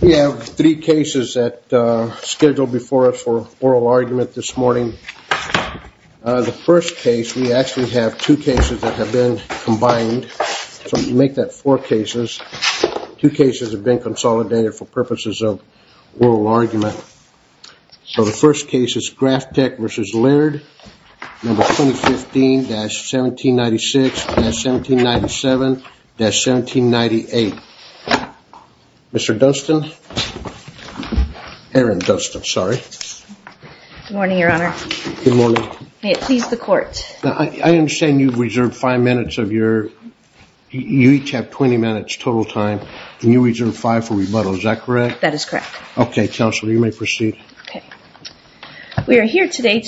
We have three cases that are scheduled before us for oral argument this morning. The first case, we actually have two cases that have been combined, so we make that four cases. Two cases have been consolidated for purposes of oral argument. So the first case is GrafTech v. Laird, No. 2015-1796-1797-1798. Mr. Dustin? Erin Dustin, sorry. Good morning, Your Honor. Good morning. May it please the Court. I understand you've reserved five minutes of your, you each have 20 minutes total time, and you reserved five for rebuttal, is that correct? That is correct. Okay, counsel, you may proceed. We are here today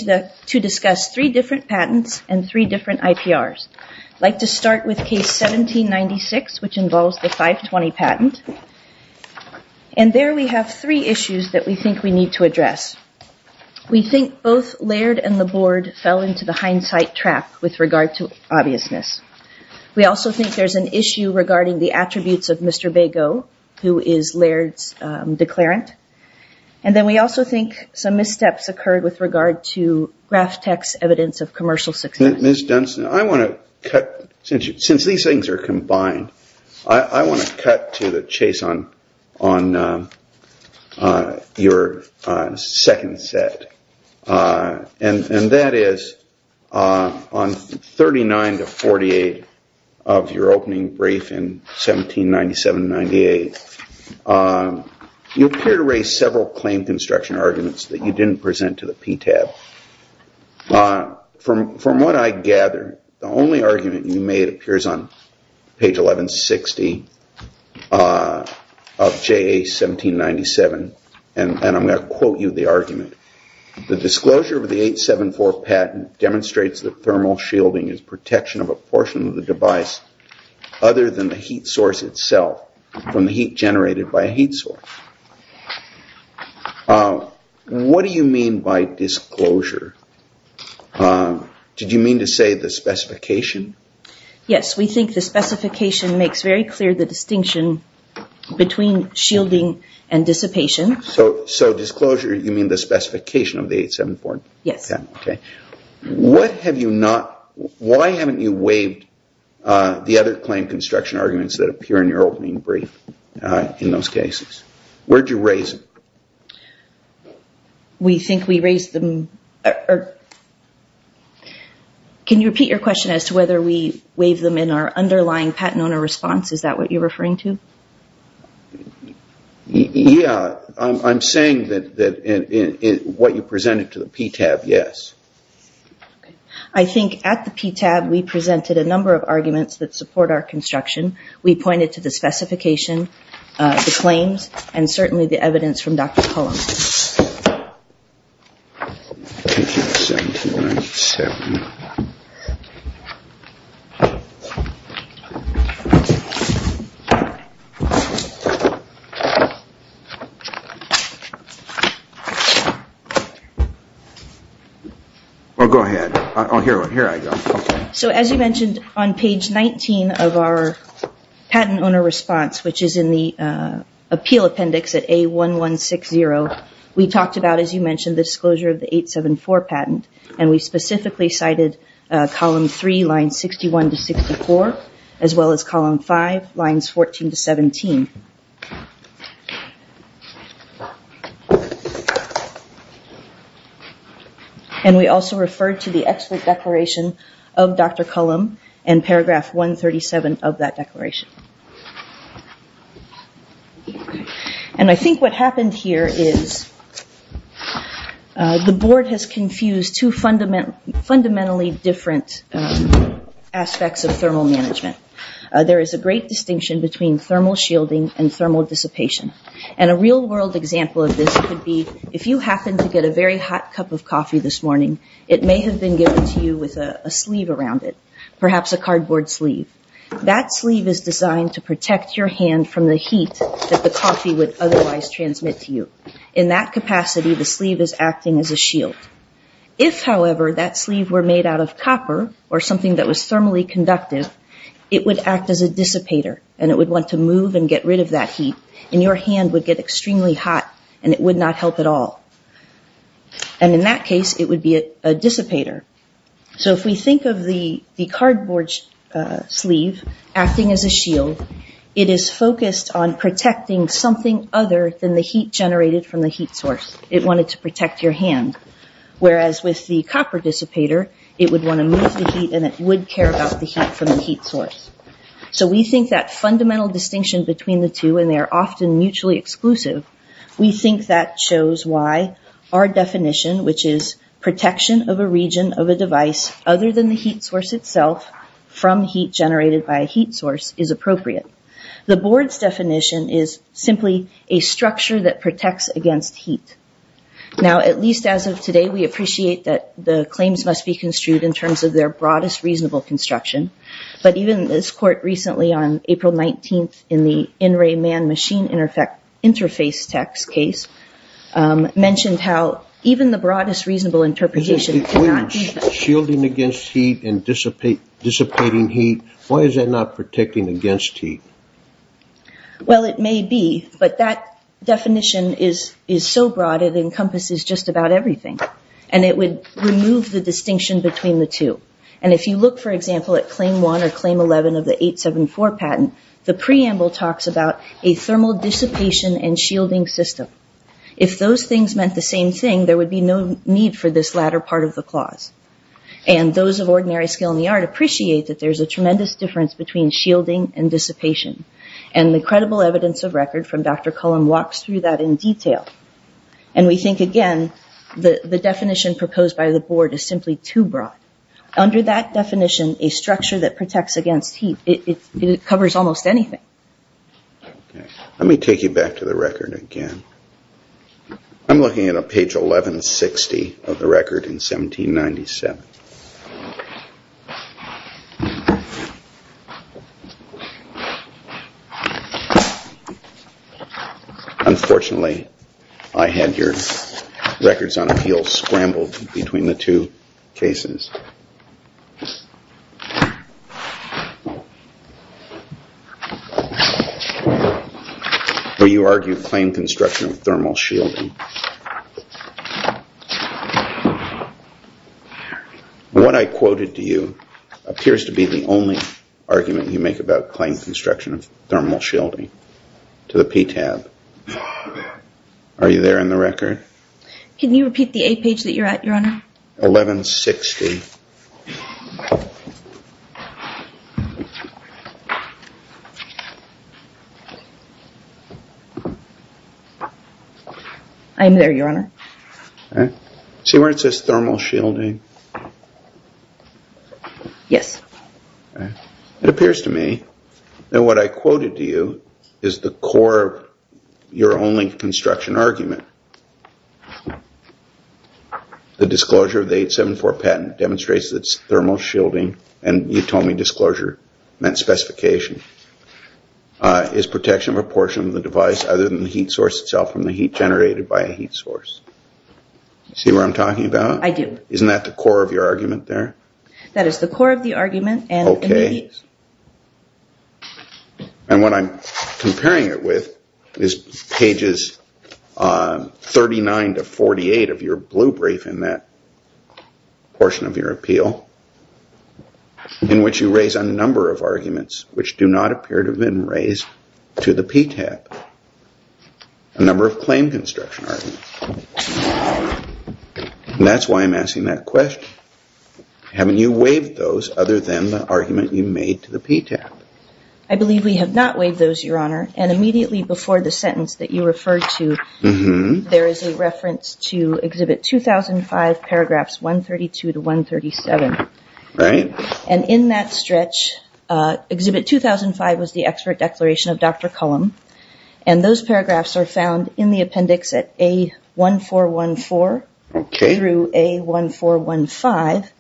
to discuss three different patents and three different IPRs. I'd like to start with case 1796, which involves the 520 patent. And there we have three issues that we think we need to address. We think both Laird and the Board fell into the hindsight trap with regard to obviousness. We also think there's an issue regarding the attributes of Mr. Bago, who is Laird's declarant. And then we also think some missteps occurred with regard to GrafTech's evidence of commercial success. Ms. Dunstan, I want to cut, since these things are combined, I want to cut to the chase on your second set. And that is on 39-48 of your opening brief in 1797-98, you appear to raise several claim construction arguments that you didn't present to the PTAB. From what I gather, the only argument you made appears on page 1160 of JA 1797. And I'm going to quote you the argument. The disclosure of the 874 patent demonstrates that thermal shielding is protection of a portion of the device, other than the heat source itself, from the heat generated by a heat source. What do you mean by disclosure? Did you mean to say the specification? Yes, we think the specification makes very clear the distinction between shielding and dissipation. So disclosure, you mean the specification of the 874 patent? Yes. Okay. Why haven't you waived the other claim construction arguments that appear in your opening brief in those cases? Where did you raise them? We think we raised them. Can you repeat your question as to whether we waived them in our underlying patent owner response? Is that what you're referring to? Yeah. I'm saying that what you presented to the PTAB, yes. Okay. I think at the PTAB we presented a number of arguments that support our construction. We pointed to the specification, the claims, and certainly the evidence from Dr. Cullum. 1797. Go ahead. Here I go. As you mentioned, on page 19 of our patent owner response, which is in the appeal appendix at A1160, we talked about, as you mentioned, the disclosure of the 874 patent. We specifically cited column 3, lines 61 to 64, as well as column 5, lines 14 to 17. And we also referred to the expert declaration of Dr. Cullum and paragraph 137 of that declaration. And I think what happened here is the board has confused two fundamentally different aspects of thermal management. There is a great distinction between thermal shielding and thermal dissipation. And a real world example of this could be if you happen to get a very hot cup of coffee this morning, it may have been given to you with a sleeve around it, perhaps a cardboard sleeve. That sleeve is designed to protect your hand from the heat that the coffee would otherwise transmit to you. In that capacity, the sleeve is acting as a shield. If, however, that sleeve were made out of copper or something that was thermally conductive, it would act as a dissipator and it would want to move and get rid of that heat. And your hand would get extremely hot and it would not help at all. And in that case, it would be a dissipator. So if we think of the cardboard sleeve acting as a shield, it is focused on protecting something other than the heat generated from the heat source. It wanted to protect your hand. Whereas with the copper dissipator, it would want to move the heat and it would care about the heat from the heat source. So we think that fundamental distinction between the two, and they are often mutually exclusive, we think that shows why our definition, which is protection of a region of a device other than the heat source itself, from heat generated by a heat source, is appropriate. The board's definition is simply a structure that protects against heat. Now, at least as of today, we appreciate that the claims must be construed in terms of their broadest reasonable construction. But even this court recently on April 19th in the in-ray man-machine interface text case, mentioned how even the broadest reasonable interpretation cannot be that. Shielding against heat and dissipating heat, why is that not protecting against heat? Well, it may be, but that definition is so broad it encompasses just about everything. And it would remove the distinction between the two. And if you look, for example, at Claim 1 or Claim 11 of the 874 patent, the preamble talks about a thermal dissipation and shielding system. If those things meant the same thing, there would be no need for this latter part of the clause. And those of ordinary skill in the art appreciate that there's a tremendous difference between shielding and dissipation. And the credible evidence of record from Dr. Cullen walks through that in detail. And we think, again, the definition proposed by the board is simply too broad. Under that definition, a structure that protects against heat, it covers almost anything. Let me take you back to the record again. I'm looking at page 1160 of the record in 1797. Unfortunately, I had your records on appeal scrambled between the two cases. Where you argue claim construction of thermal shielding. What I quoted to you appears to be the only argument you make about claim construction of thermal shielding. To the P tab. Are you there in the record? Can you repeat the A page that you're at, Your Honor? 1160. I'm there, Your Honor. See where it says thermal shielding? Yes. It appears to me that what I quoted to you is the core of your only construction argument. The disclosure of the 874 patent demonstrates that it's thermal shielding. And you told me disclosure meant specification. Is protection of a portion of the device other than the heat source itself from the heat generated by a heat source. See what I'm talking about? I do. Isn't that the core of your argument there? That is the core of the argument. Okay. And what I'm comparing it with is pages 39 to 48 of your blue brief in that portion of your appeal. In which you raise a number of arguments which do not appear to have been raised to the P tab. A number of claim construction arguments. And that's why I'm asking that question. Haven't you waived those other than the argument you made to the P tab? I believe we have not waived those, Your Honor. And immediately before the sentence that you referred to, there is a reference to Exhibit 2005, paragraphs 132 to 137. Right. And in that stretch, Exhibit 2005 was the expert declaration of Dr. Cullum. And those paragraphs are found in the appendix at A1414 through A1415.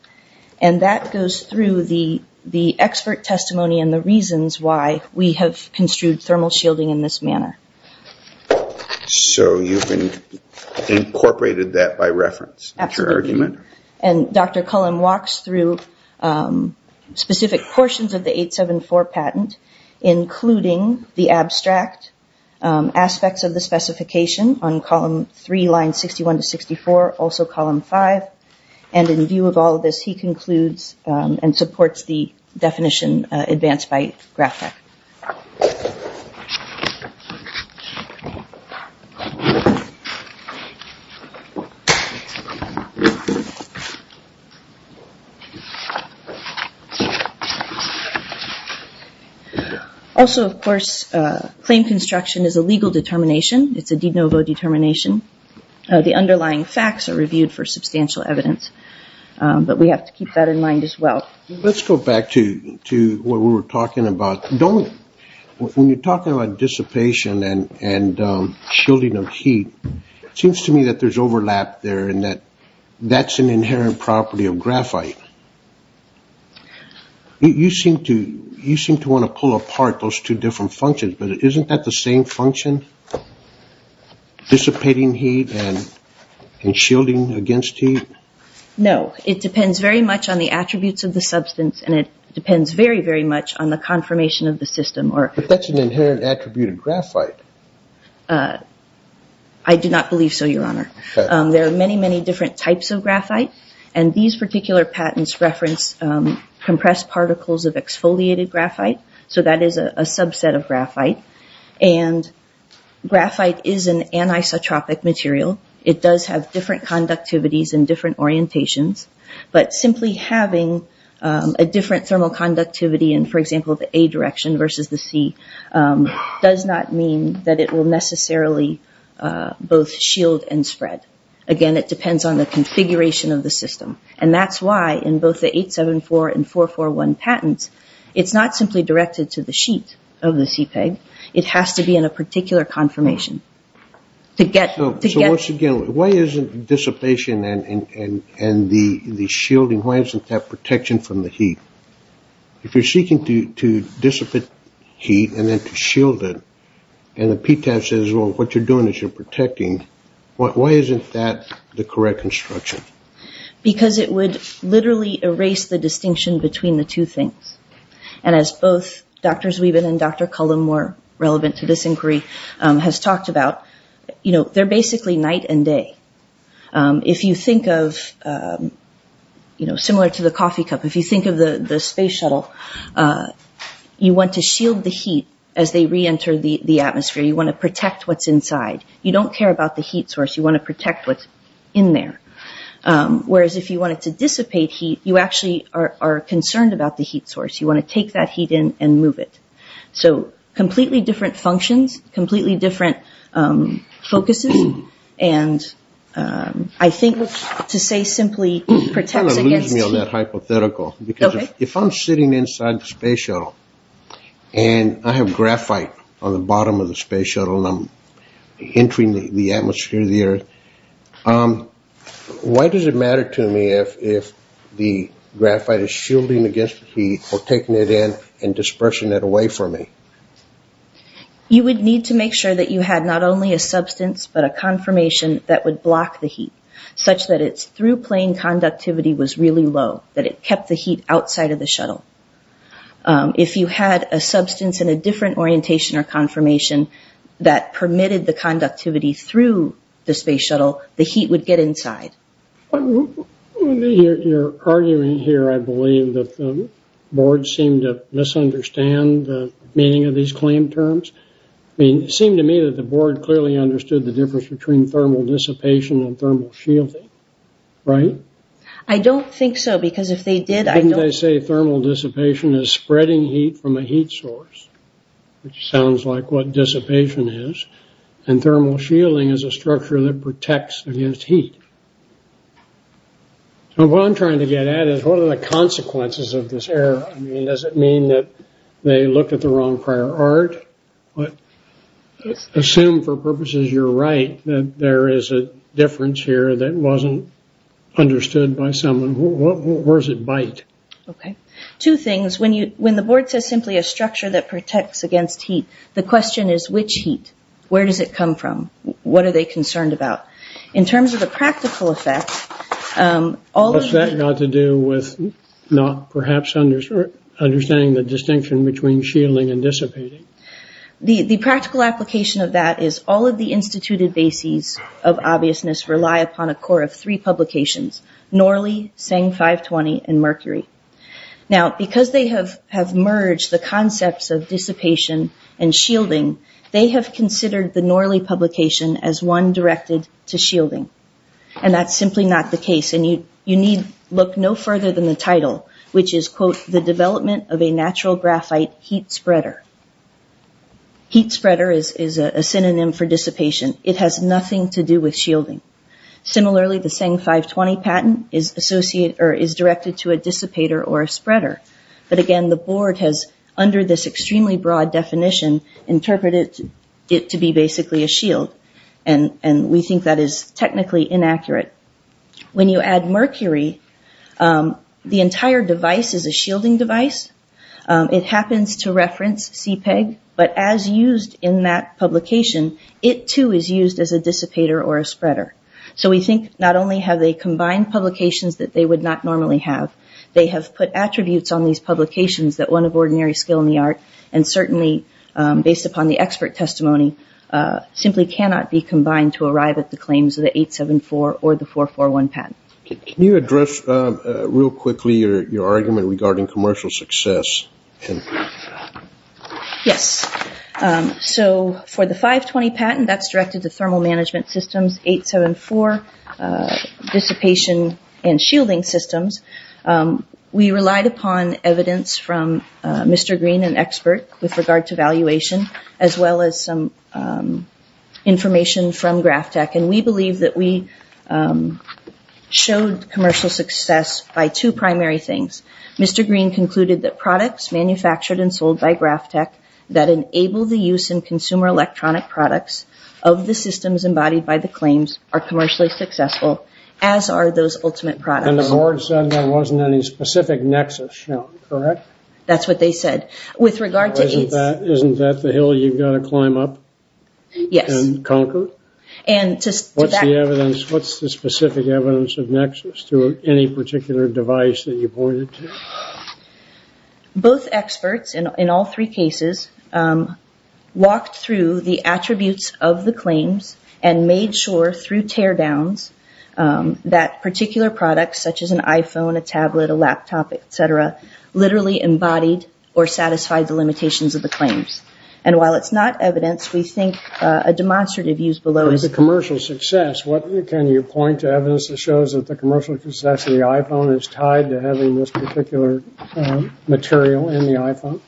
And that goes through the expert testimony and the reasons why we have construed thermal shielding in this manner. So you've incorporated that by reference in your argument? Absolutely. And Dr. Cullum walks through specific portions of the 874 patent, including the abstract aspects of the specification on Column 3, Lines 61 to 64, also Column 5. And in view of all of this, he concludes and supports the definition advanced by Graftec. Also, of course, claim construction is a legal determination. It's a de novo determination. The underlying facts are reviewed for substantial evidence. But we have to keep that in mind as well. Let's go back to what we were talking about. When you're talking about dissipation and shielding of heat, it seems to me that there's overlap there and that that's an inherent property of graphite. You seem to want to pull apart those two different functions. But isn't that the same function, dissipating heat and shielding against heat? No, it depends very much on the attributes of the substance and it depends very, very much on the confirmation of the system. But that's an inherent attribute of graphite. I do not believe so, Your Honor. There are many, many different types of graphite. And these particular patents reference compressed particles of exfoliated graphite. So that is a subset of graphite. And graphite is an anisotropic material. It does have different conductivities and different orientations. But simply having a different thermal conductivity in, for example, the A direction versus the C does not mean that it will necessarily both shield and spread. Again, it depends on the configuration of the system. And that's why in both the 874 and 441 patents, it's not simply directed to the sheet of the CPEG. It has to be in a particular confirmation. So once again, why isn't dissipation and the shielding, why isn't that protection from the heat? If you're seeking to dissipate heat and then to shield it, and the PTAS says, well, what you're doing is you're protecting, why isn't that the correct instruction? Because it would literally erase the distinction between the two things. And as both Dr. Zwiebel and Dr. Cullum were relevant to this inquiry, has talked about, you know, they're basically night and day. If you think of, you know, similar to the coffee cup, if you think of the space shuttle, you want to shield the heat as they reenter the atmosphere. You want to protect what's inside. You don't care about the heat source. You want to protect what's in there. Whereas if you wanted to dissipate heat, you actually are concerned about the heat source. You want to take that heat in and move it. So completely different functions, completely different focuses. And I think to say simply protects against heat. You're going to lose me on that hypothetical. Okay. Because if I'm sitting inside the space shuttle and I have graphite on the bottom of the space shuttle and I'm entering the atmosphere of the Earth, why does it matter to me if the graphite is shielding against the heat or taking it in and dispersing it away from me? You would need to make sure that you had not only a substance but a confirmation that would block the heat, such that its through-plane conductivity was really low, that it kept the heat outside of the shuttle. If you had a substance in a different orientation or confirmation that permitted the conductivity through the space shuttle, the heat would get inside. You're arguing here, I believe, that the board seemed to misunderstand the meaning of these claim terms. I mean, it seemed to me that the board clearly understood the difference between thermal dissipation and thermal shielding, right? I don't think so, because if they did, I don't… Let's say thermal dissipation is spreading heat from a heat source, which sounds like what dissipation is, and thermal shielding is a structure that protects against heat. What I'm trying to get at is what are the consequences of this error? I mean, does it mean that they looked at the wrong prior art? Assume, for purposes you're right, that there is a difference here that wasn't understood by someone. Where does it bite? Okay. Two things. When the board says simply a structure that protects against heat, the question is, which heat? Where does it come from? What are they concerned about? In terms of the practical effect… What's that got to do with not perhaps understanding the distinction between shielding and dissipating? The practical application of that is all of the instituted bases of obviousness rely upon a core of three publications, Norley, Tseng 520, and Mercury. Now, because they have merged the concepts of dissipation and shielding, they have considered the Norley publication as one directed to shielding, and that's simply not the case. You need look no further than the title, which is, quote, The Development of a Natural Graphite Heat Spreader. Heat spreader is a synonym for dissipation. It has nothing to do with shielding. Similarly, the Tseng 520 patent is directed to a dissipator or a spreader, but again, the board has, under this extremely broad definition, interpreted it to be basically a shield, and we think that is technically inaccurate. When you add Mercury, the entire device is a shielding device. It happens to reference CPEG, but as used in that publication, it too is used as a dissipator or a spreader. So we think not only have they combined publications that they would not normally have, they have put attributes on these publications that one of ordinary skill in the art, and certainly based upon the expert testimony, simply cannot be combined to arrive at the claims of the 874 or the 441 patent. Can you address real quickly your argument regarding commercial success? Yes. So for the 520 patent, that's directed to thermal management systems, 874 dissipation and shielding systems. We relied upon evidence from Mr. Green, an expert with regard to valuation, as well as some information from Graph Tech, and we believe that we showed commercial success by two primary things. Mr. Green concluded that products manufactured and sold by Graph Tech that enable the use in consumer electronic products of the systems embodied by the claims are commercially successful, as are those ultimate products. And the board said there wasn't any specific nexus shown, correct? That's what they said. Isn't that the hill you've got to climb up and conquer? What's the specific evidence of nexus to any particular device that you pointed to? Both experts in all three cases walked through the attributes of the claims and made sure through teardowns that particular products, such as an iPhone, a tablet, a laptop, et cetera, literally embodied or satisfied the limitations of the claims. And while it's not evidence, we think a demonstrative use below is. With the commercial success, what can you point to evidence that shows that the commercial success of the iPhone is tied to having this particular material in the iPhone?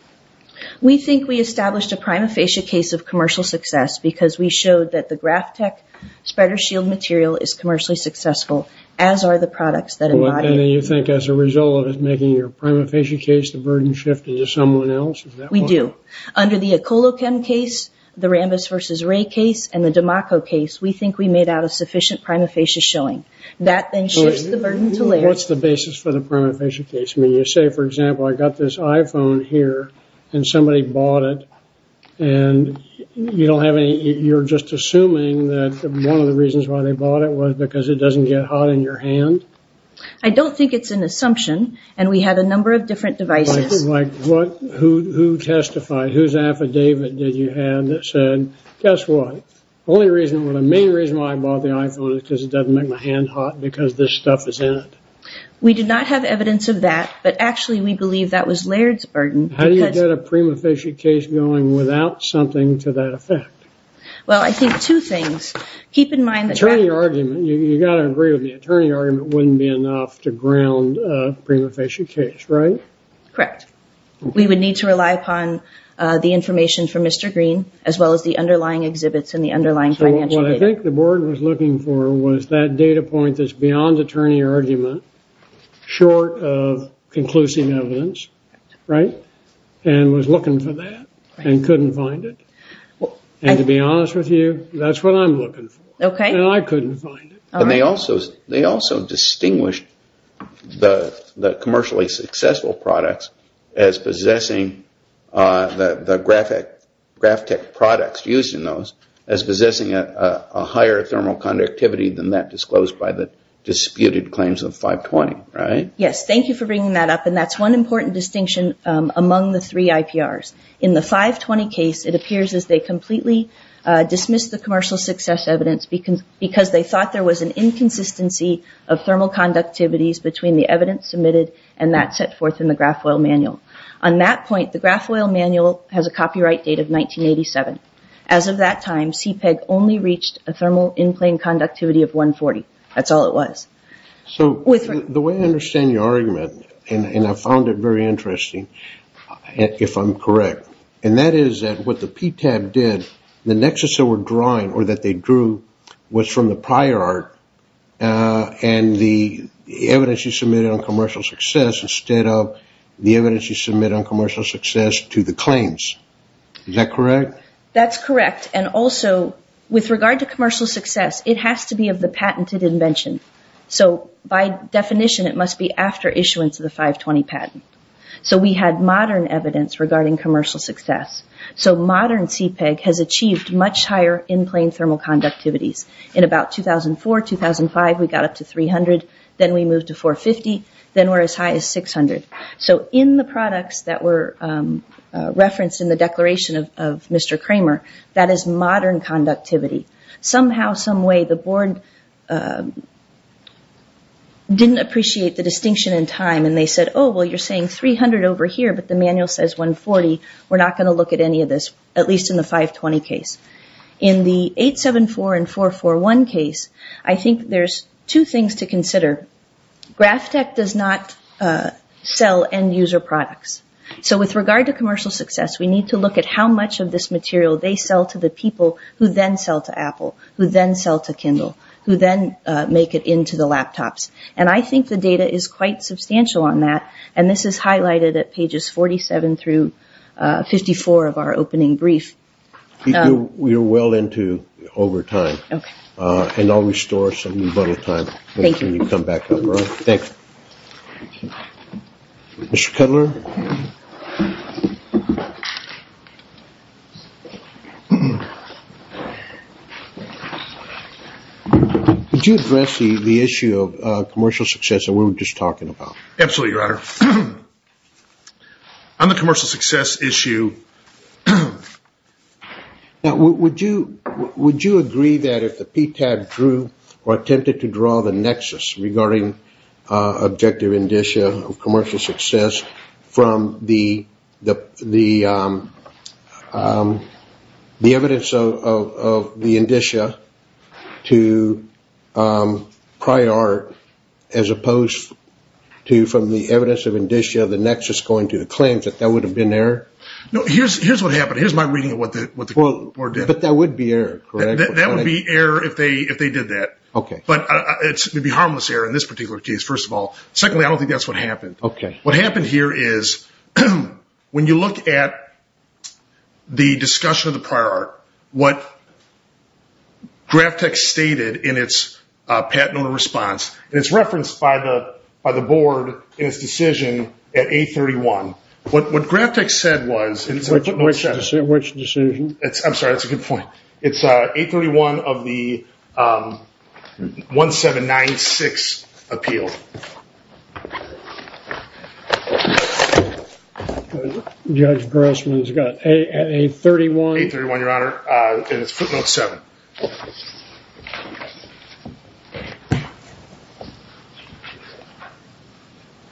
We think we established a prima facie case of commercial success because we showed that the Graph Tech spreader shield material is commercially successful, as are the products that embody it. You think as a result of making your prima facie case, the burden shifted to someone else? We do. Under the Ecolochem case, the Rambis v. Ray case, and the Damaco case, we think we made out a sufficient prima facie showing. That then shifts the burden to Larry. What's the basis for the prima facie case? When you say, for example, I got this iPhone here and somebody bought it and you're just assuming that one of the reasons why they bought it was because it doesn't get hot in your hand? I don't think it's an assumption, and we had a number of different devices. Who testified? Whose affidavit did you have that said, guess what, the main reason why I bought the iPhone is because it doesn't make my hand hot because this stuff is in it? We did not have evidence of that, but actually we believe that was Laird's burden. How do you get a prima facie case going without something to that effect? Well, I think two things. Keep in mind that... Attorney argument. You've got to agree with me. Attorney argument wouldn't be enough to ground a prima facie case, right? Correct. We would need to rely upon the information from Mr. Green as well as the underlying exhibits and the underlying financial data. What I think the board was looking for was that data point that's beyond attorney argument, short of conclusive evidence, right? And was looking for that and couldn't find it. And to be honest with you, that's what I'm looking for. Okay. And I couldn't find it. And they also distinguished the commercially successful products as possessing the Graph Tech products used in those as possessing a higher thermal conductivity than that disclosed by the disputed claims of 520, right? Yes. Thank you for bringing that up. And that's one important distinction among the three IPRs. In the 520 case, it appears as they completely dismissed the commercial success evidence because they thought there was an inconsistency of thermal conductivities between the evidence submitted and that set forth in the Graph Oil Manual. On that point, the Graph Oil Manual has a copyright date of 1987. As of that time, CPEG only reached a thermal in-plane conductivity of 140. That's all it was. So the way I understand your argument, and I found it very interesting, if I'm correct, and that is that what the PTAB did, the nexus they were drawing or that they drew, was from the prior art and the evidence you submitted on commercial success instead of the evidence you submitted on commercial success to the claims. Is that correct? That's correct. And also, with regard to commercial success, it has to be of the patented invention. So by definition, it must be after issuance of the 520 patent. So we had modern evidence regarding commercial success. So modern CPEG has achieved much higher in-plane thermal conductivities. In about 2004, 2005, we got up to 300. Then we moved to 450. Then we're as high as 600. So in the products that were referenced in the declaration of Mr. Kramer, that is modern conductivity. Somehow, some way, the board didn't appreciate the distinction in time, and they said, oh, well, you're saying 300 over here, but the manual says 140. We're not going to look at any of this, at least in the 520 case. In the 874 and 441 case, I think there's two things to consider. Graphtec does not sell end-user products. So with regard to commercial success, we need to look at how much of this material they sell to the people who then sell to Apple, who then sell to Kindle, who then make it into the laptops. And I think the data is quite substantial on that, and this is highlighted at pages 47 through 54 of our opening brief. You're well into over time. Okay. And I'll restore some of your time when you come back up, all right? Thank you. Thanks. Mr. Cutler? Would you address the issue of commercial success that we were just talking about? Absolutely, Your Honor. On the commercial success issue, now would you agree that if the PTAB drew or attempted to draw the nexus regarding objective indicia of commercial success from the evidence of the indicia to prior art as opposed to from the evidence of indicia of the nexus going to the claims, that that would have been error? No, here's what happened. Here's my reading of what the board did. But that would be error, correct? That would be error if they did that. Okay. But it would be harmless error in this particular case, first of all. Secondly, I don't think that's what happened. Okay. What happened here is when you look at the discussion of the prior art, what GravTech stated in its patent owner response, and it's referenced by the board in its decision at 831. What GravTech said was, and it's a footnote 7. Which decision? I'm sorry, that's a good point. It's 831 of the 1796 appeal. Judge Grossman's got 831? 831, Your Honor, and it's footnote 7.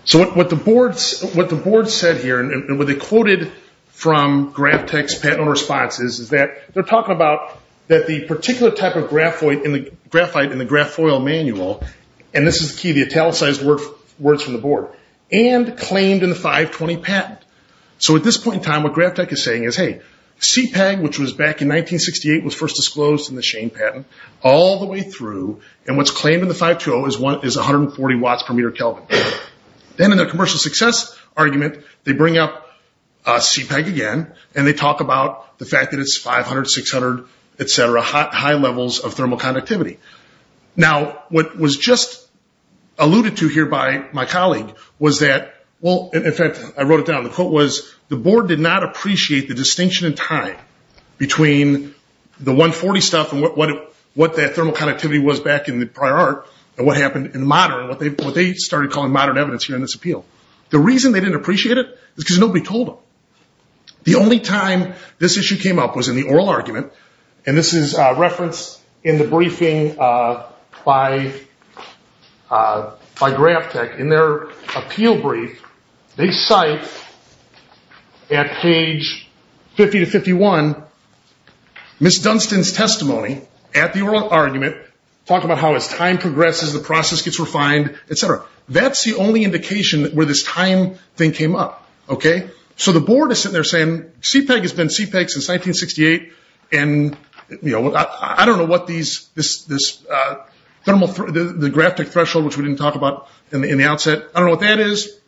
So what the board said here, and what they quoted from GravTech's patent owner response is that they're talking about that the particular type of graphite in the graphoil manual, and this is the key, the italicized words from the board, and claimed in the 520 patent. So at this point in time, what GravTech is saying is, hey, CPEG, which was back in 1968, was first disclosed in the Shane patent, all the way through, and what's claimed in the 520 is 140 watts per meter Kelvin. Then in their commercial success argument, they bring up CPEG again, and they talk about the fact that it's 500, 600, et cetera, high levels of thermal conductivity. Now, what was just alluded to here by my colleague was that, well, in fact, I wrote it down, the quote was, the board did not appreciate the distinction in time between the 140 stuff and what that thermal conductivity was back in the prior art, and what happened in modern, what they started calling modern evidence here in this appeal. The reason they didn't appreciate it is because nobody told them. The only time this issue came up was in the oral argument, and this is referenced in the briefing by GravTech. In their appeal brief, they cite, at page 50 to 51, Ms. Dunstan's testimony at the oral argument, talking about how as time progresses, the process gets refined, et cetera. That's the only indication where this time thing came up. So the board is sitting there saying, CPEG has been CPEG since 1968, and I don't know what this thermal, the GravTech threshold, which we didn't talk about in the outset, I don't know what that is.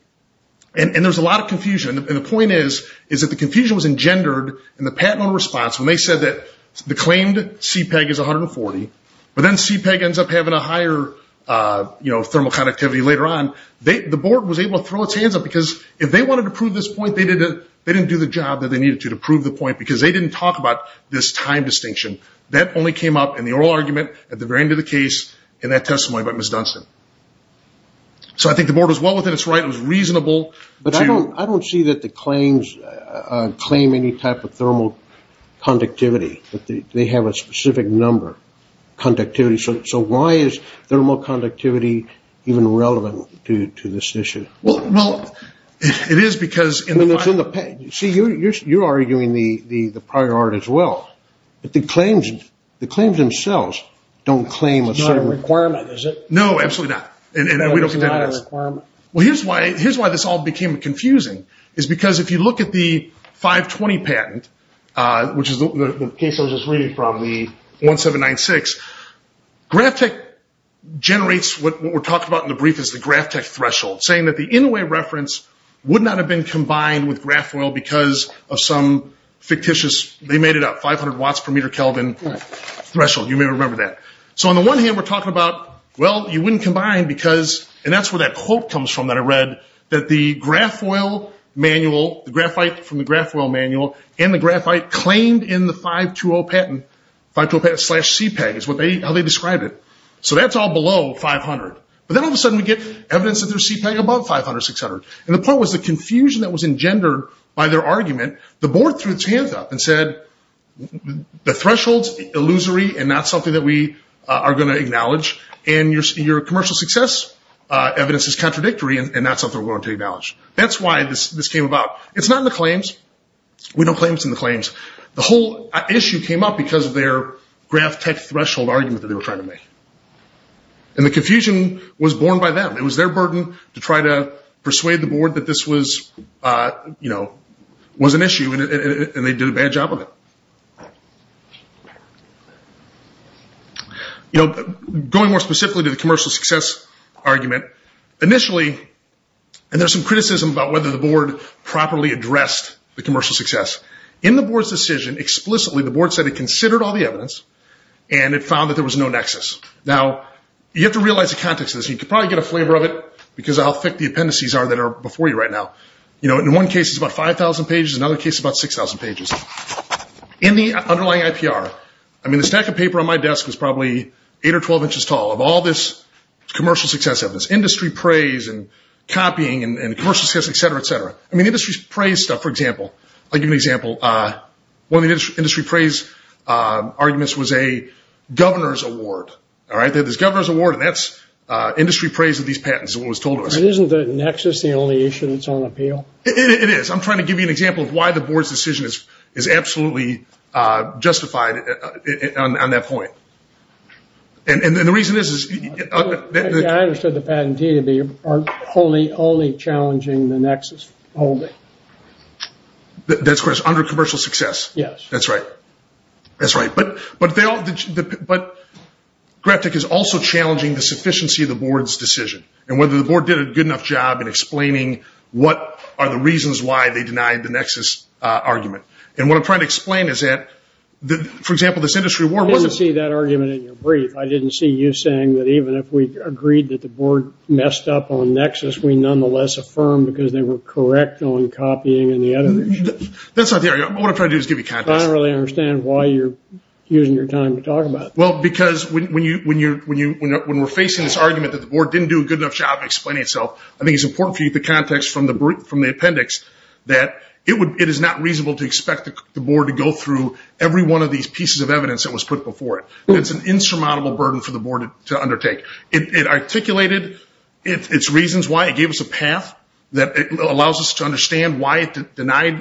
And there's a lot of confusion, and the point is that the confusion was engendered in the patent on response when they said that the claimed CPEG is 140, but then CPEG ends up having a higher thermal conductivity later on. The board was able to throw its hands up, because if they wanted to prove this point, they didn't do the job that they needed to to prove the point, because they didn't talk about this time distinction. That only came up in the oral argument at the very end of the case in that testimony by Ms. Dunstan. So I think the board was well within its right, it was reasonable. But I don't see that the claims claim any type of thermal conductivity. They have a specific number, conductivity. So why is thermal conductivity even relevant to this issue? Well, it is because in the... See, you're arguing the prior art as well. But the claims themselves don't claim a certain... It's not a requirement, is it? No, absolutely not. Well, here's why this all became confusing, is because if you look at the 520 patent, which is the case I was just reading from, the 1796, GravTech generates what we're talking about in the brief as the GravTech threshold, saying that the Inouye reference would not have been combined with GrafOil because of some fictitious... They made it up, 500 watts per meter Kelvin threshold. You may remember that. So on the one hand, we're talking about, well, you wouldn't combine because... And that's where that quote comes from that I read, that the GrafOil manual, the graphite from the GrafOil manual, and the graphite claimed in the 520 patent, 520 patent slash CPEG is how they described it. So that's all below 500. But then all of a sudden we get evidence that there's CPEG above 500, 600. And the point was the confusion that was engendered by their argument, the board threw its hands up and said, the threshold's illusory and not something that we are going to acknowledge, and your commercial success evidence is contradictory and not something we're going to acknowledge. That's why this came about. It's not in the claims. We don't claim it's in the claims. The whole issue came up because of their GravTech threshold argument that they were trying to make. And the confusion was born by them. It was their burden to try to persuade the board that this was an issue, and they did a bad job of it. Going more specifically to the commercial success argument, initially, and there's some criticism about whether the board properly addressed the commercial success. In the board's decision, explicitly the board said it considered all the evidence and it found that there was no nexus. Now, you have to realize the context of this. You can probably get a flavor of it because of how thick the appendices are that are before you right now. In one case, it's about 5,000 pages. In another case, it's about 6,000 pages. In the underlying IPR, I mean, the stack of paper on my desk is probably 8 or 12 inches tall of all this commercial success evidence, industry praise and copying and commercial success, et cetera, et cetera. I mean, industry praise stuff, for example, I'll give you an example. One of the industry praise arguments was a governor's award. There's a governor's award and that's industry praise of these patents is what was told to us. Isn't the nexus the only issue that's on appeal? It is. I'm trying to give you an example of why the board's decision is absolutely justified on that point. And the reason is… I understood the patentee to be only challenging the nexus holding. That's correct, under commercial success. Yes. That's right. But Graftik is also challenging the sufficiency of the board's decision and whether the board did a good enough job in explaining what are the reasons why they denied the nexus argument. And what I'm trying to explain is that, for example, this industry award… I didn't see that argument in your brief. I didn't see you saying that even if we agreed that the board messed up on nexus, we nonetheless affirmed because they were correct on copying and the other issues. That's not the area. What I'm trying to do is give you context. I don't really understand why you're using your time to talk about it. Well, because when we're facing this argument that the board didn't do a good enough job explaining itself, I think it's important for you to get the context from the appendix that it is not reasonable to expect the board to go through every one of these pieces of evidence that was put before it. It's an insurmountable burden for the board to undertake. It articulated its reasons why. And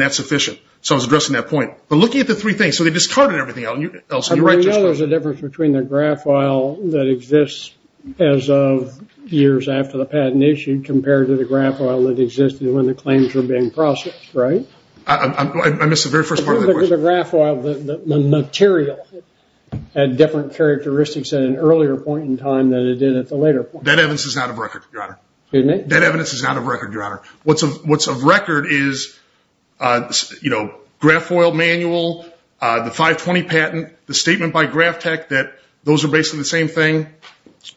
that's sufficient. So I was addressing that point. But looking at the three things. So they discarded everything else. I know there's a difference between the graph oil that exists as of years after the patent issue compared to the graph oil that existed when the claims were being processed, right? I missed the very first part of that question. The graph oil, the material had different characteristics at an earlier point in time than it did at the later point. That evidence is out of record, Your Honor. Excuse me? That evidence is out of record, Your Honor. What's of record is graph oil manual, the 520 patent, the statement by Graph Tech that those are basically the same thing.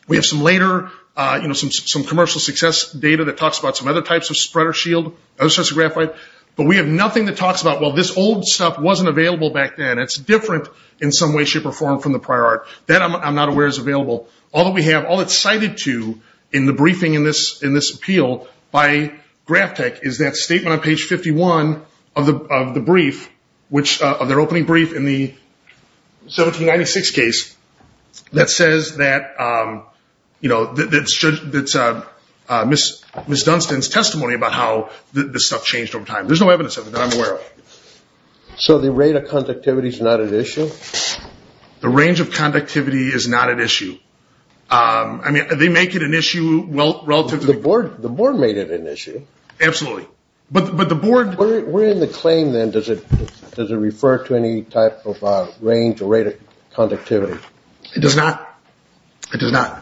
We have some later, some commercial success data that talks about some other types of spreader shield, other sorts of graphite. But we have nothing that talks about, well, this old stuff wasn't available back then. It's different in some way, shape, or form from the prior art. That I'm not aware is available. All that we have, all that's cited to in the briefing in this appeal by Graph Tech is that statement on page 51 of the brief, of their opening brief in the 1796 case that says that, you know, that's Ms. Dunstan's testimony about how this stuff changed over time. There's no evidence of it that I'm aware of. So the rate of conductivity is not at issue? The range of conductivity is not at issue. I mean, they make it an issue relative to the board. The board made it an issue. Absolutely. But the board. Where in the claim, then, does it refer to any type of range or rate of conductivity? It does not. It does not.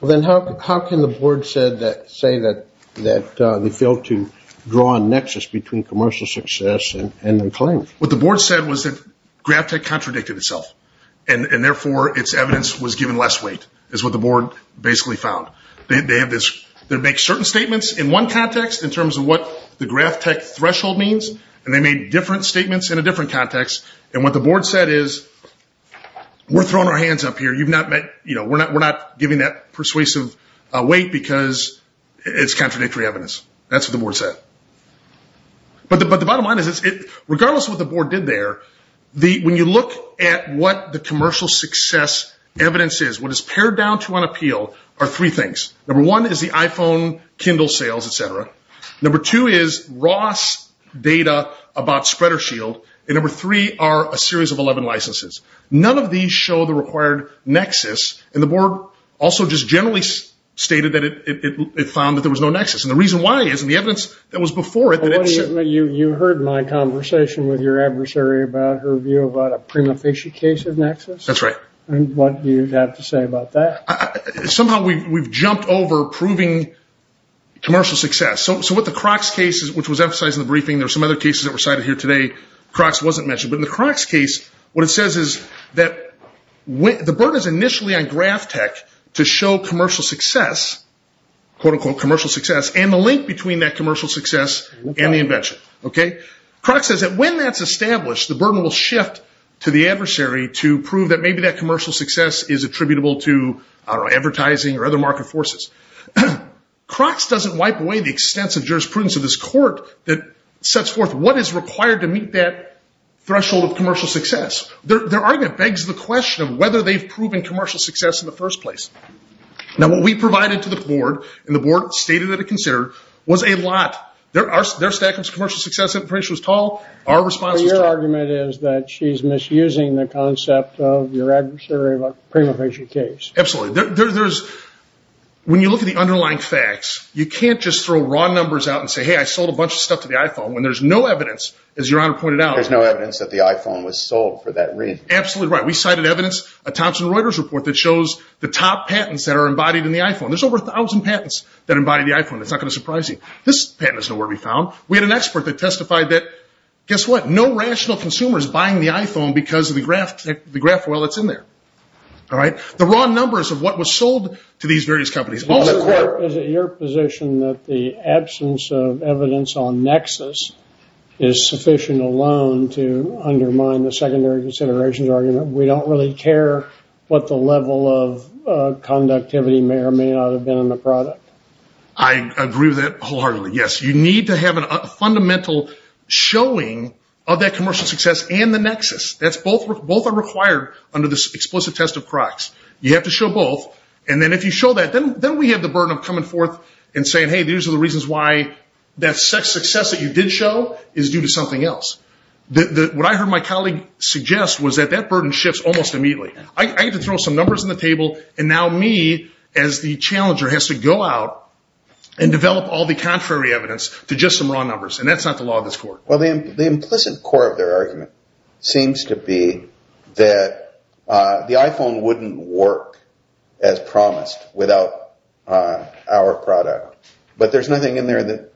Well, then how can the board say that they failed to draw a nexus between commercial success and the claim? What the board said was that Graph Tech contradicted itself. And therefore, its evidence was given less weight, is what the board basically found. They make certain statements in one context in terms of what the Graph Tech threshold means, and they made different statements in a different context. And what the board said is, we're throwing our hands up here. We're not giving that persuasive weight because it's contradictory evidence. That's what the board said. But the bottom line is, regardless of what the board did there, when you look at what the commercial success evidence is, what it's pared down to on appeal are three things. Number one is the iPhone, Kindle sales, et cetera. Number two is Ross data about SpreaderShield. And number three are a series of 11 licenses. None of these show the required nexus. nexus. And the reason why is in the evidence that was before it. You heard my conversation with your adversary about her view about a prima facie case of nexus? That's right. And what do you have to say about that? Somehow we've jumped over proving commercial success. So with the Crocs case, which was emphasized in the briefing, there were some other cases that were cited here today. Crocs wasn't mentioned. But in the Crocs case, what it says is that the burden is initially on Graph Tech to show commercial success, quote-unquote commercial success, and the link between that commercial success and the invention. Crocs says that when that's established, the burden will shift to the adversary to prove that maybe that commercial success is attributable to, I don't know, advertising or other market forces. Crocs doesn't wipe away the extensive jurisprudence of this court that sets forth what is required to meet that threshold of commercial success. Their argument begs the question of whether they've proven commercial success in the first place. Now, what we provided to the board, and the board stated that it considered, was a lot. Their stack of commercial success was tall. Our response is true. Your argument is that she's misusing the concept of your adversary about prima facie case. Absolutely. When you look at the underlying facts, you can't just throw raw numbers out and say, hey, I sold a bunch of stuff to the iPhone, when there's no evidence, as Your Honor pointed out. There's no evidence that the iPhone was sold for that reason. Absolutely right. We cited evidence, a Thomson Reuters report, that shows the top patents that are embodied in the iPhone. There's over 1,000 patents that embody the iPhone. It's not going to surprise you. This patent is nowhere to be found. We had an expert that testified that, guess what, no rational consumer is buying the iPhone because of the graph oil that's in there. All right? The raw numbers of what was sold to these various companies. Is it your position that the absence of evidence on Nexus is sufficient alone to undermine the secondary considerations argument? We don't really care what the level of conductivity may or may not have been in the product. I agree with that wholeheartedly, yes. You need to have a fundamental showing of that commercial success and the Nexus. Both are required under this explicit test of Crocs. You have to show both, and then if you show that, then we have the burden of coming forth and saying, hey, these are the reasons why that success that you did show is due to something else. What I heard my colleague suggest was that that burden shifts almost immediately. I get to throw some numbers on the table, and now me, as the challenger, has to go out and develop all the contrary evidence to just some raw numbers, and that's not the law of this court. Well, the implicit core of their argument seems to be that the iPhone wouldn't work as promised without our product. But there's nothing in there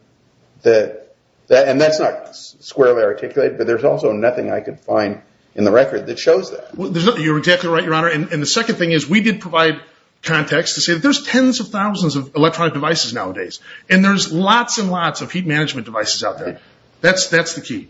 that, and that's not squarely articulated, but there's also nothing I could find in the record that shows that. You're exactly right, Your Honor, and the second thing is we did provide context to say that there's tens of thousands of electronic devices nowadays, and there's lots and lots of heat management devices out there. That's the key.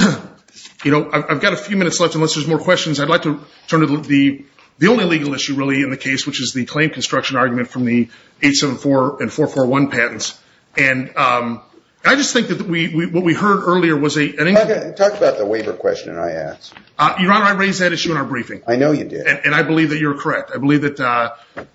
I've got a few minutes left unless there's more questions. I'd like to turn to the only legal issue really in the case, which is the claim construction argument from the 874 and 441 patents. And I just think that what we heard earlier was a – Talk about the waiver question I asked. Your Honor, I raised that issue in our briefing. I know you did. And I believe that you're correct. I believe that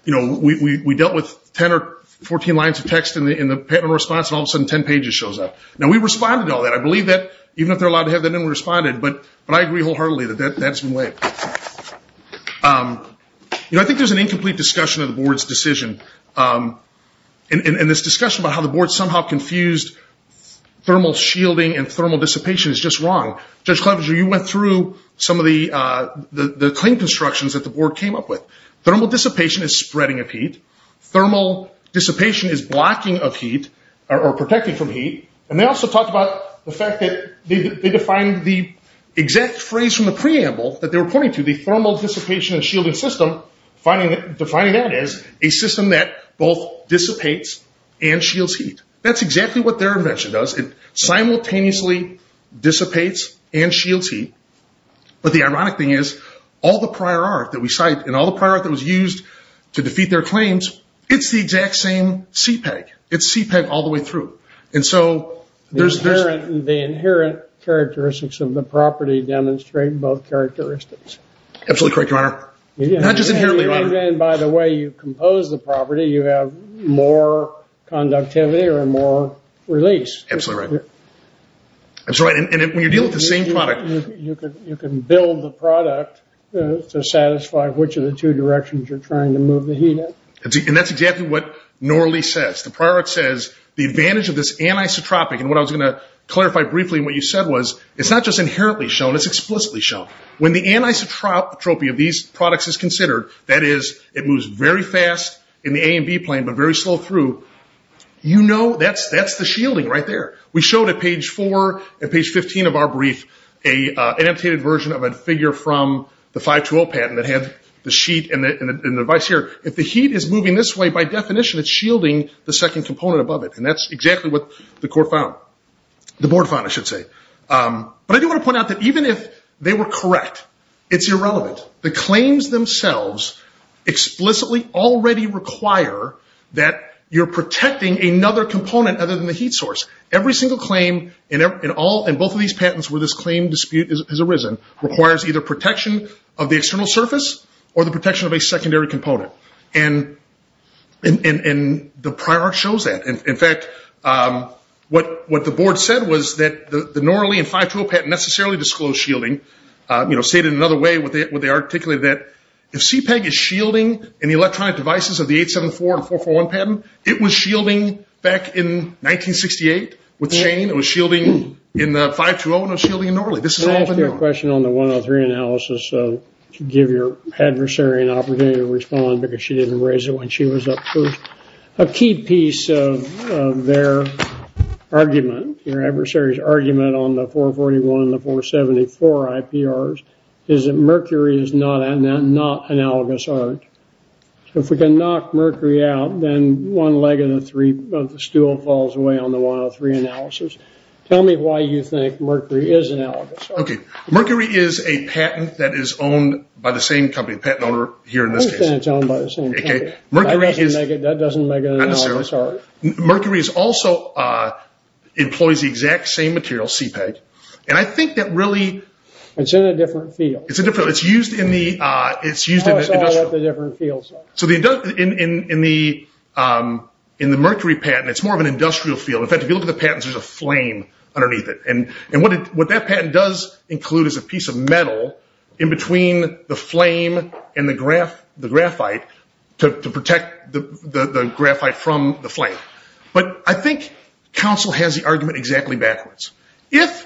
we dealt with 10 or 14 lines of text in the patent response, and all of a sudden 10 pages shows up. Now, we responded to all that. I believe that even if they're allowed to have that in, we responded. But I agree wholeheartedly that that's been waived. You know, I think there's an incomplete discussion of the Board's decision. And this discussion about how the Board somehow confused thermal shielding and thermal dissipation is just wrong. Judge Clevenger, you went through some of the claim constructions that the Board came up with. Thermal dissipation is spreading of heat. Thermal dissipation is blocking of heat or protecting from heat. And they also talked about the fact that they defined the exact phrase from the 22, the thermal dissipation and shielding system, defining that as a system that both dissipates and shields heat. That's exactly what their invention does. It simultaneously dissipates and shields heat. But the ironic thing is, all the prior art that we cite and all the prior art that was used to defeat their claims, it's the exact same CPEG. It's CPEG all the way through. The inherent characteristics of the property demonstrate both characteristics. Absolutely correct, Your Honor. Not just inherently, Your Honor. And by the way you compose the property, you have more conductivity or more release. Absolutely right. That's right. And when you're dealing with the same product. You can build the product to satisfy which of the two directions you're trying to move the heat in. And that's exactly what Norley says. The prior art says the advantage of this anisotropic, and what I was going to clarify briefly in what you said was, it's not just inherently shown, it's explicitly shown. When the anisotropy of these products is considered, that is it moves very fast in the A and B plane but very slow through, you know that's the shielding right there. We showed at page 4 and page 15 of our brief an amputated version of a figure from the 520 patent that had the sheet and the device here. If the heat is moving this way, by definition, it's shielding the second component above it. And that's exactly what the court found, the board found I should say. But I do want to point out that even if they were correct, it's irrelevant. The claims themselves explicitly already require that you're protecting another component other than the heat source. Every single claim in both of these patents where this claim dispute has arisen requires either protection of the external surface or the protection of a secondary component. And the prior art shows that. In fact, what the board said was that the Norley and 520 patent necessarily disclosed shielding. You know, stated in another way what they articulated that if CPEG is shielding any electronic devices of the 874 and 441 patent, it was shielding back in 1968 with Shane, it was shielding in the 520 and it was shielding in Norley. Can I ask you a question on the 103 analysis to give your adversary an opportunity to respond because she didn't raise it when she was up first? A key piece of their argument, your adversary's argument on the 441 and the 474 IPRs is that mercury is not analogous art. If we can knock mercury out, then one leg of the stool falls away on the 103 analysis. Tell me why you think mercury is analogous art. Okay. Mercury is a patent that is owned by the same company, the patent owner here in this case. I don't think it's owned by the same company. Okay. That doesn't make it analogous art. Mercury also employs the exact same material, CPEG, and I think that really It's in a different field. It's a different field. It's used in the industrial. I saw what the different fields are. So in the mercury patent, it's more of an industrial field. In fact, if you look at the patents, there's a flame underneath it. And what that patent does include is a piece of metal in between the flame and the graphite to protect the graphite from the flame. But I think Council has the argument exactly backwards. If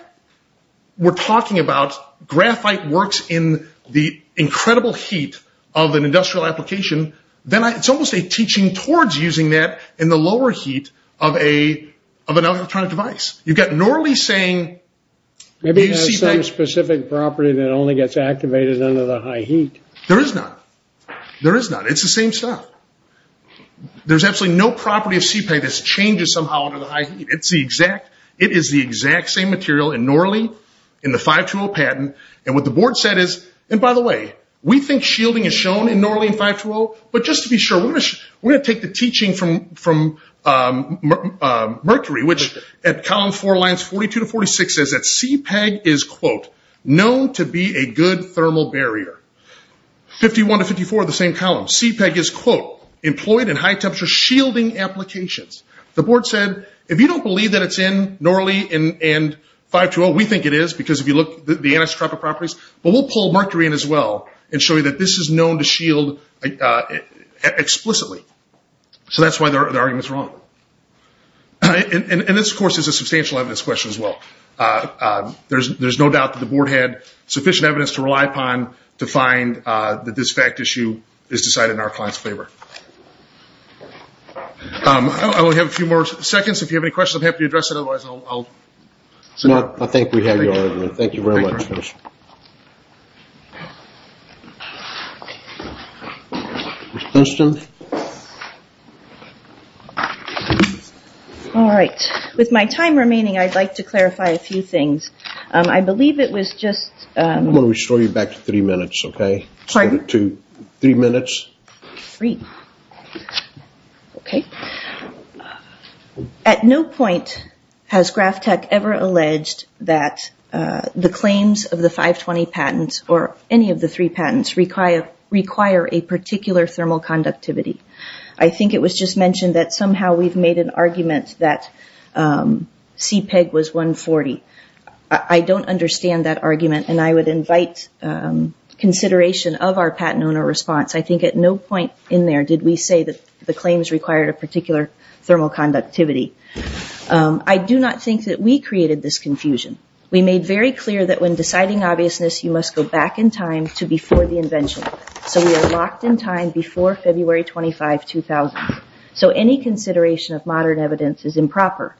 we're talking about graphite works in the incredible heat of an industrial application, then it's almost a teaching towards using that in the lower heat of an electronic device. You've got Norley saying CPEG. Maybe it has some specific property that only gets activated under the high heat. There is not. There is not. It's the same stuff. There's absolutely no property of CPEG that changes somehow under the high heat. It is the exact same material in Norley in the 520 patent. And what the board said is, and by the way, we think shielding is shown in Norley in 520, but just to be sure, we're going to take the teaching from Mercury, which at column four lines 42 to 46 says that CPEG is, quote, known to be a good thermal barrier. 51 to 54 are the same column. CPEG is, quote, employed in high temperature shielding applications. The board said, if you don't believe that it's in Norley and 520, we think it is because if you look at the anisotropic properties, but we'll pull Mercury in as well and show you that this is known to shield explicitly. So that's why the argument is wrong. And this, of course, is a substantial evidence question as well. There's no doubt that the board had sufficient evidence to rely upon to find that this fact issue is decided in our client's favor. I only have a few more seconds. If you have any questions, I'm happy to address it, otherwise I'll. I think we have your order. Thank you very much. All right. With my time remaining, I'd like to clarify a few things. I believe it was just. I'm going to restore you back to three minutes, okay? Pardon? Three minutes. Three. Okay. At no point has Graph Tech ever alleged that the claims of the 520 patents or any of the three patents require a particular thermal conductivity. I think it was just mentioned that somehow we've made an argument that CPEG was 140. I don't understand that argument, and I would invite consideration of our patent owner response. I think at no point in there did we say that the claims required a particular thermal conductivity. I do not think that we created this confusion. We made very clear that when deciding obviousness, you must go back in time to before the invention. So we are locked in time before February 25, 2000. So any consideration of modern evidence is improper.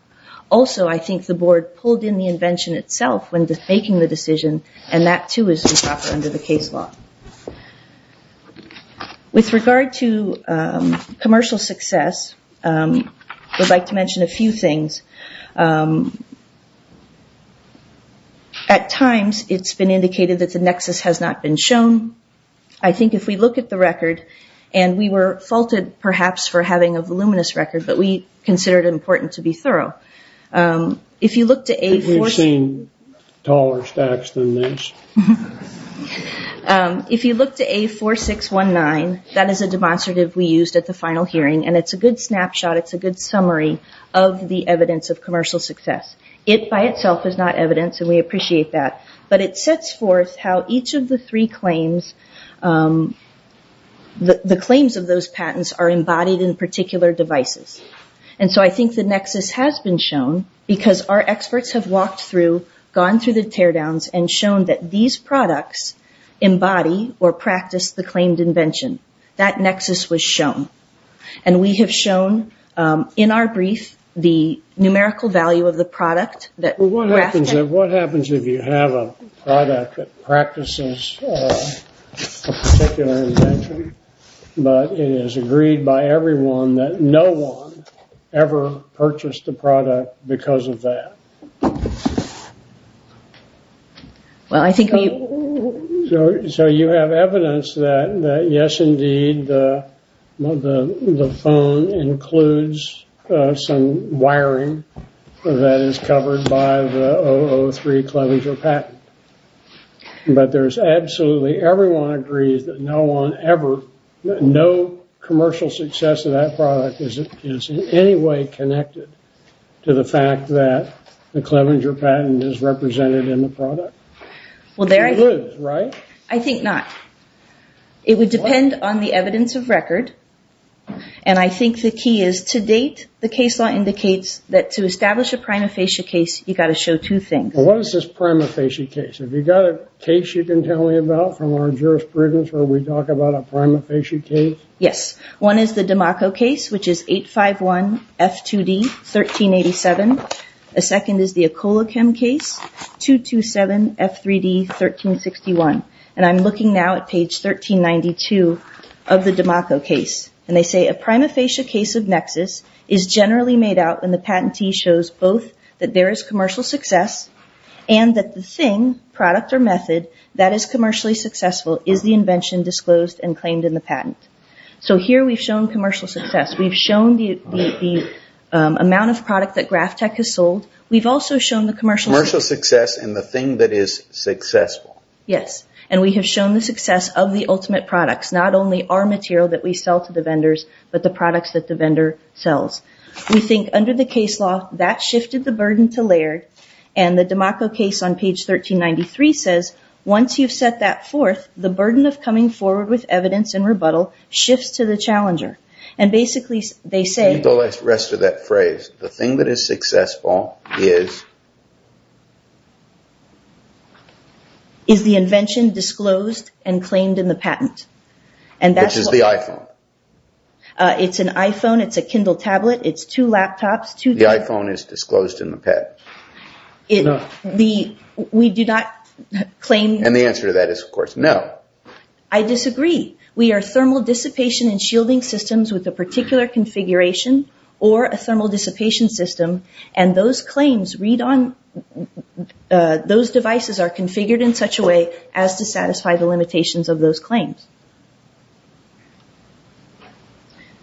Also, I think the board pulled in the invention itself when making the decision, and that, too, is improper under the case law. With regard to commercial success, I would like to mention a few things. At times, it's been indicated that the nexus has not been shown. I think if we look at the record, and we were faulted, perhaps, for having a voluminous record, but we consider it important to be thorough. If you look to A4. We've seen taller stacks than this. If you look to A4619, that is a demonstrative we used at the final hearing, and it's a good snapshot. It's a good summary of the evidence of commercial success. It, by itself, is not evidence, and we appreciate that. But it sets forth how each of the three claims, the claims of those patents are embodied in particular devices. And so I think the nexus has been shown because our experts have walked through, gone through the teardowns, and shown that these products embody or practice the claimed invention. That nexus was shown. And we have shown, in our brief, the numerical value of the product. Well, what happens if you have a product that practices a particular invention, but it is agreed by everyone that no one ever purchased a Well, I think we. So you have evidence that, yes, indeed, the phone includes some wiring that is covered by the 003 Clevenger patent. But there's absolutely, everyone agrees that no one ever, no commercial success of that product is in any way connected to the fact that the Clevenger patent is represented in the product. It includes, right? I think not. It would depend on the evidence of record. And I think the key is, to date, the case law indicates that to establish a prima facie case, you've got to show two things. Well, what is this prima facie case? Have you got a case you can tell me about from our jurisprudence where we talk about a prima facie case? Yes. One is the Damaco case, which is 851F2D1387. The second is the Ecolachem case, 227F3D1361. And I'm looking now at page 1392 of the Damaco case. And they say, a prima facie case of nexus is generally made out when the patentee shows both that there is commercial success and that the thing, product, or method that is commercially successful is the invention disclosed and claimed in the patent. So here we've shown commercial success. We've shown the amount of product that Graphtec has sold. We've also shown the commercial success. Commercial success and the thing that is successful. Yes. And we have shown the success of the ultimate products, not only our material that we sell to the vendors, but the products that the vendor sells. We think, under the case law, that shifted the burden to Laird. And the Damaco case on page 1393 says, once you've set that forth, the burden of coming forward with evidence and rebuttal shifts to the challenger. And basically they say. Read the rest of that phrase. The thing that is successful is. Is the invention disclosed and claimed in the patent. Which is the iPhone. It's an iPhone. It's a Kindle tablet. It's two laptops. The iPhone is disclosed in the patent. We do not claim. And the answer to that is, of course, no. I disagree. We are thermal dissipation and shielding systems with a particular configuration or a thermal dissipation system. And those claims read on. Those devices are configured in such a way as to satisfy the limitations of those claims.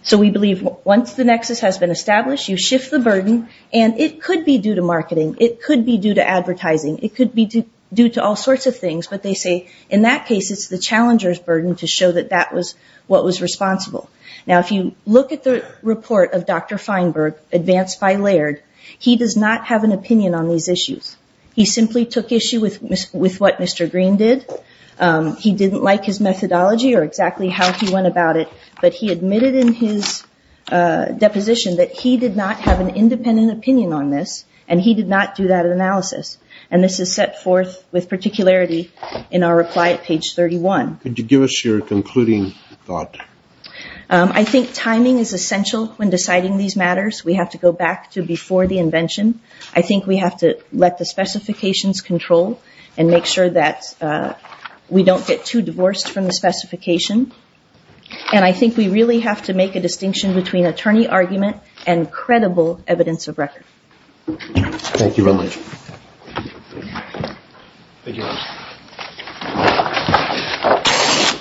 So we believe once the nexus has been established, you shift the burden. And it could be due to marketing. It could be due to advertising. It could be due to all sorts of things. But they say in that case it's the challenger's burden to show that that was what was responsible. Now if you look at the report of Dr. Feinberg, advanced by Laird, he does not have an opinion on these issues. He simply took issue with what Mr. Green did. He didn't like his methodology or exactly how he went about it. But he admitted in his deposition that he did not have an independent opinion on this. And he did not do that analysis. And this is set forth with particularity in our reply at page 31. Could you give us your concluding thought? I think timing is essential when deciding these matters. We have to go back to before the invention. I think we have to let the specifications control and make sure that we don't get too divorced from the specification. And I think we really have to make a distinction between attorney argument and credible evidence of record. Thank you very much. Thank you.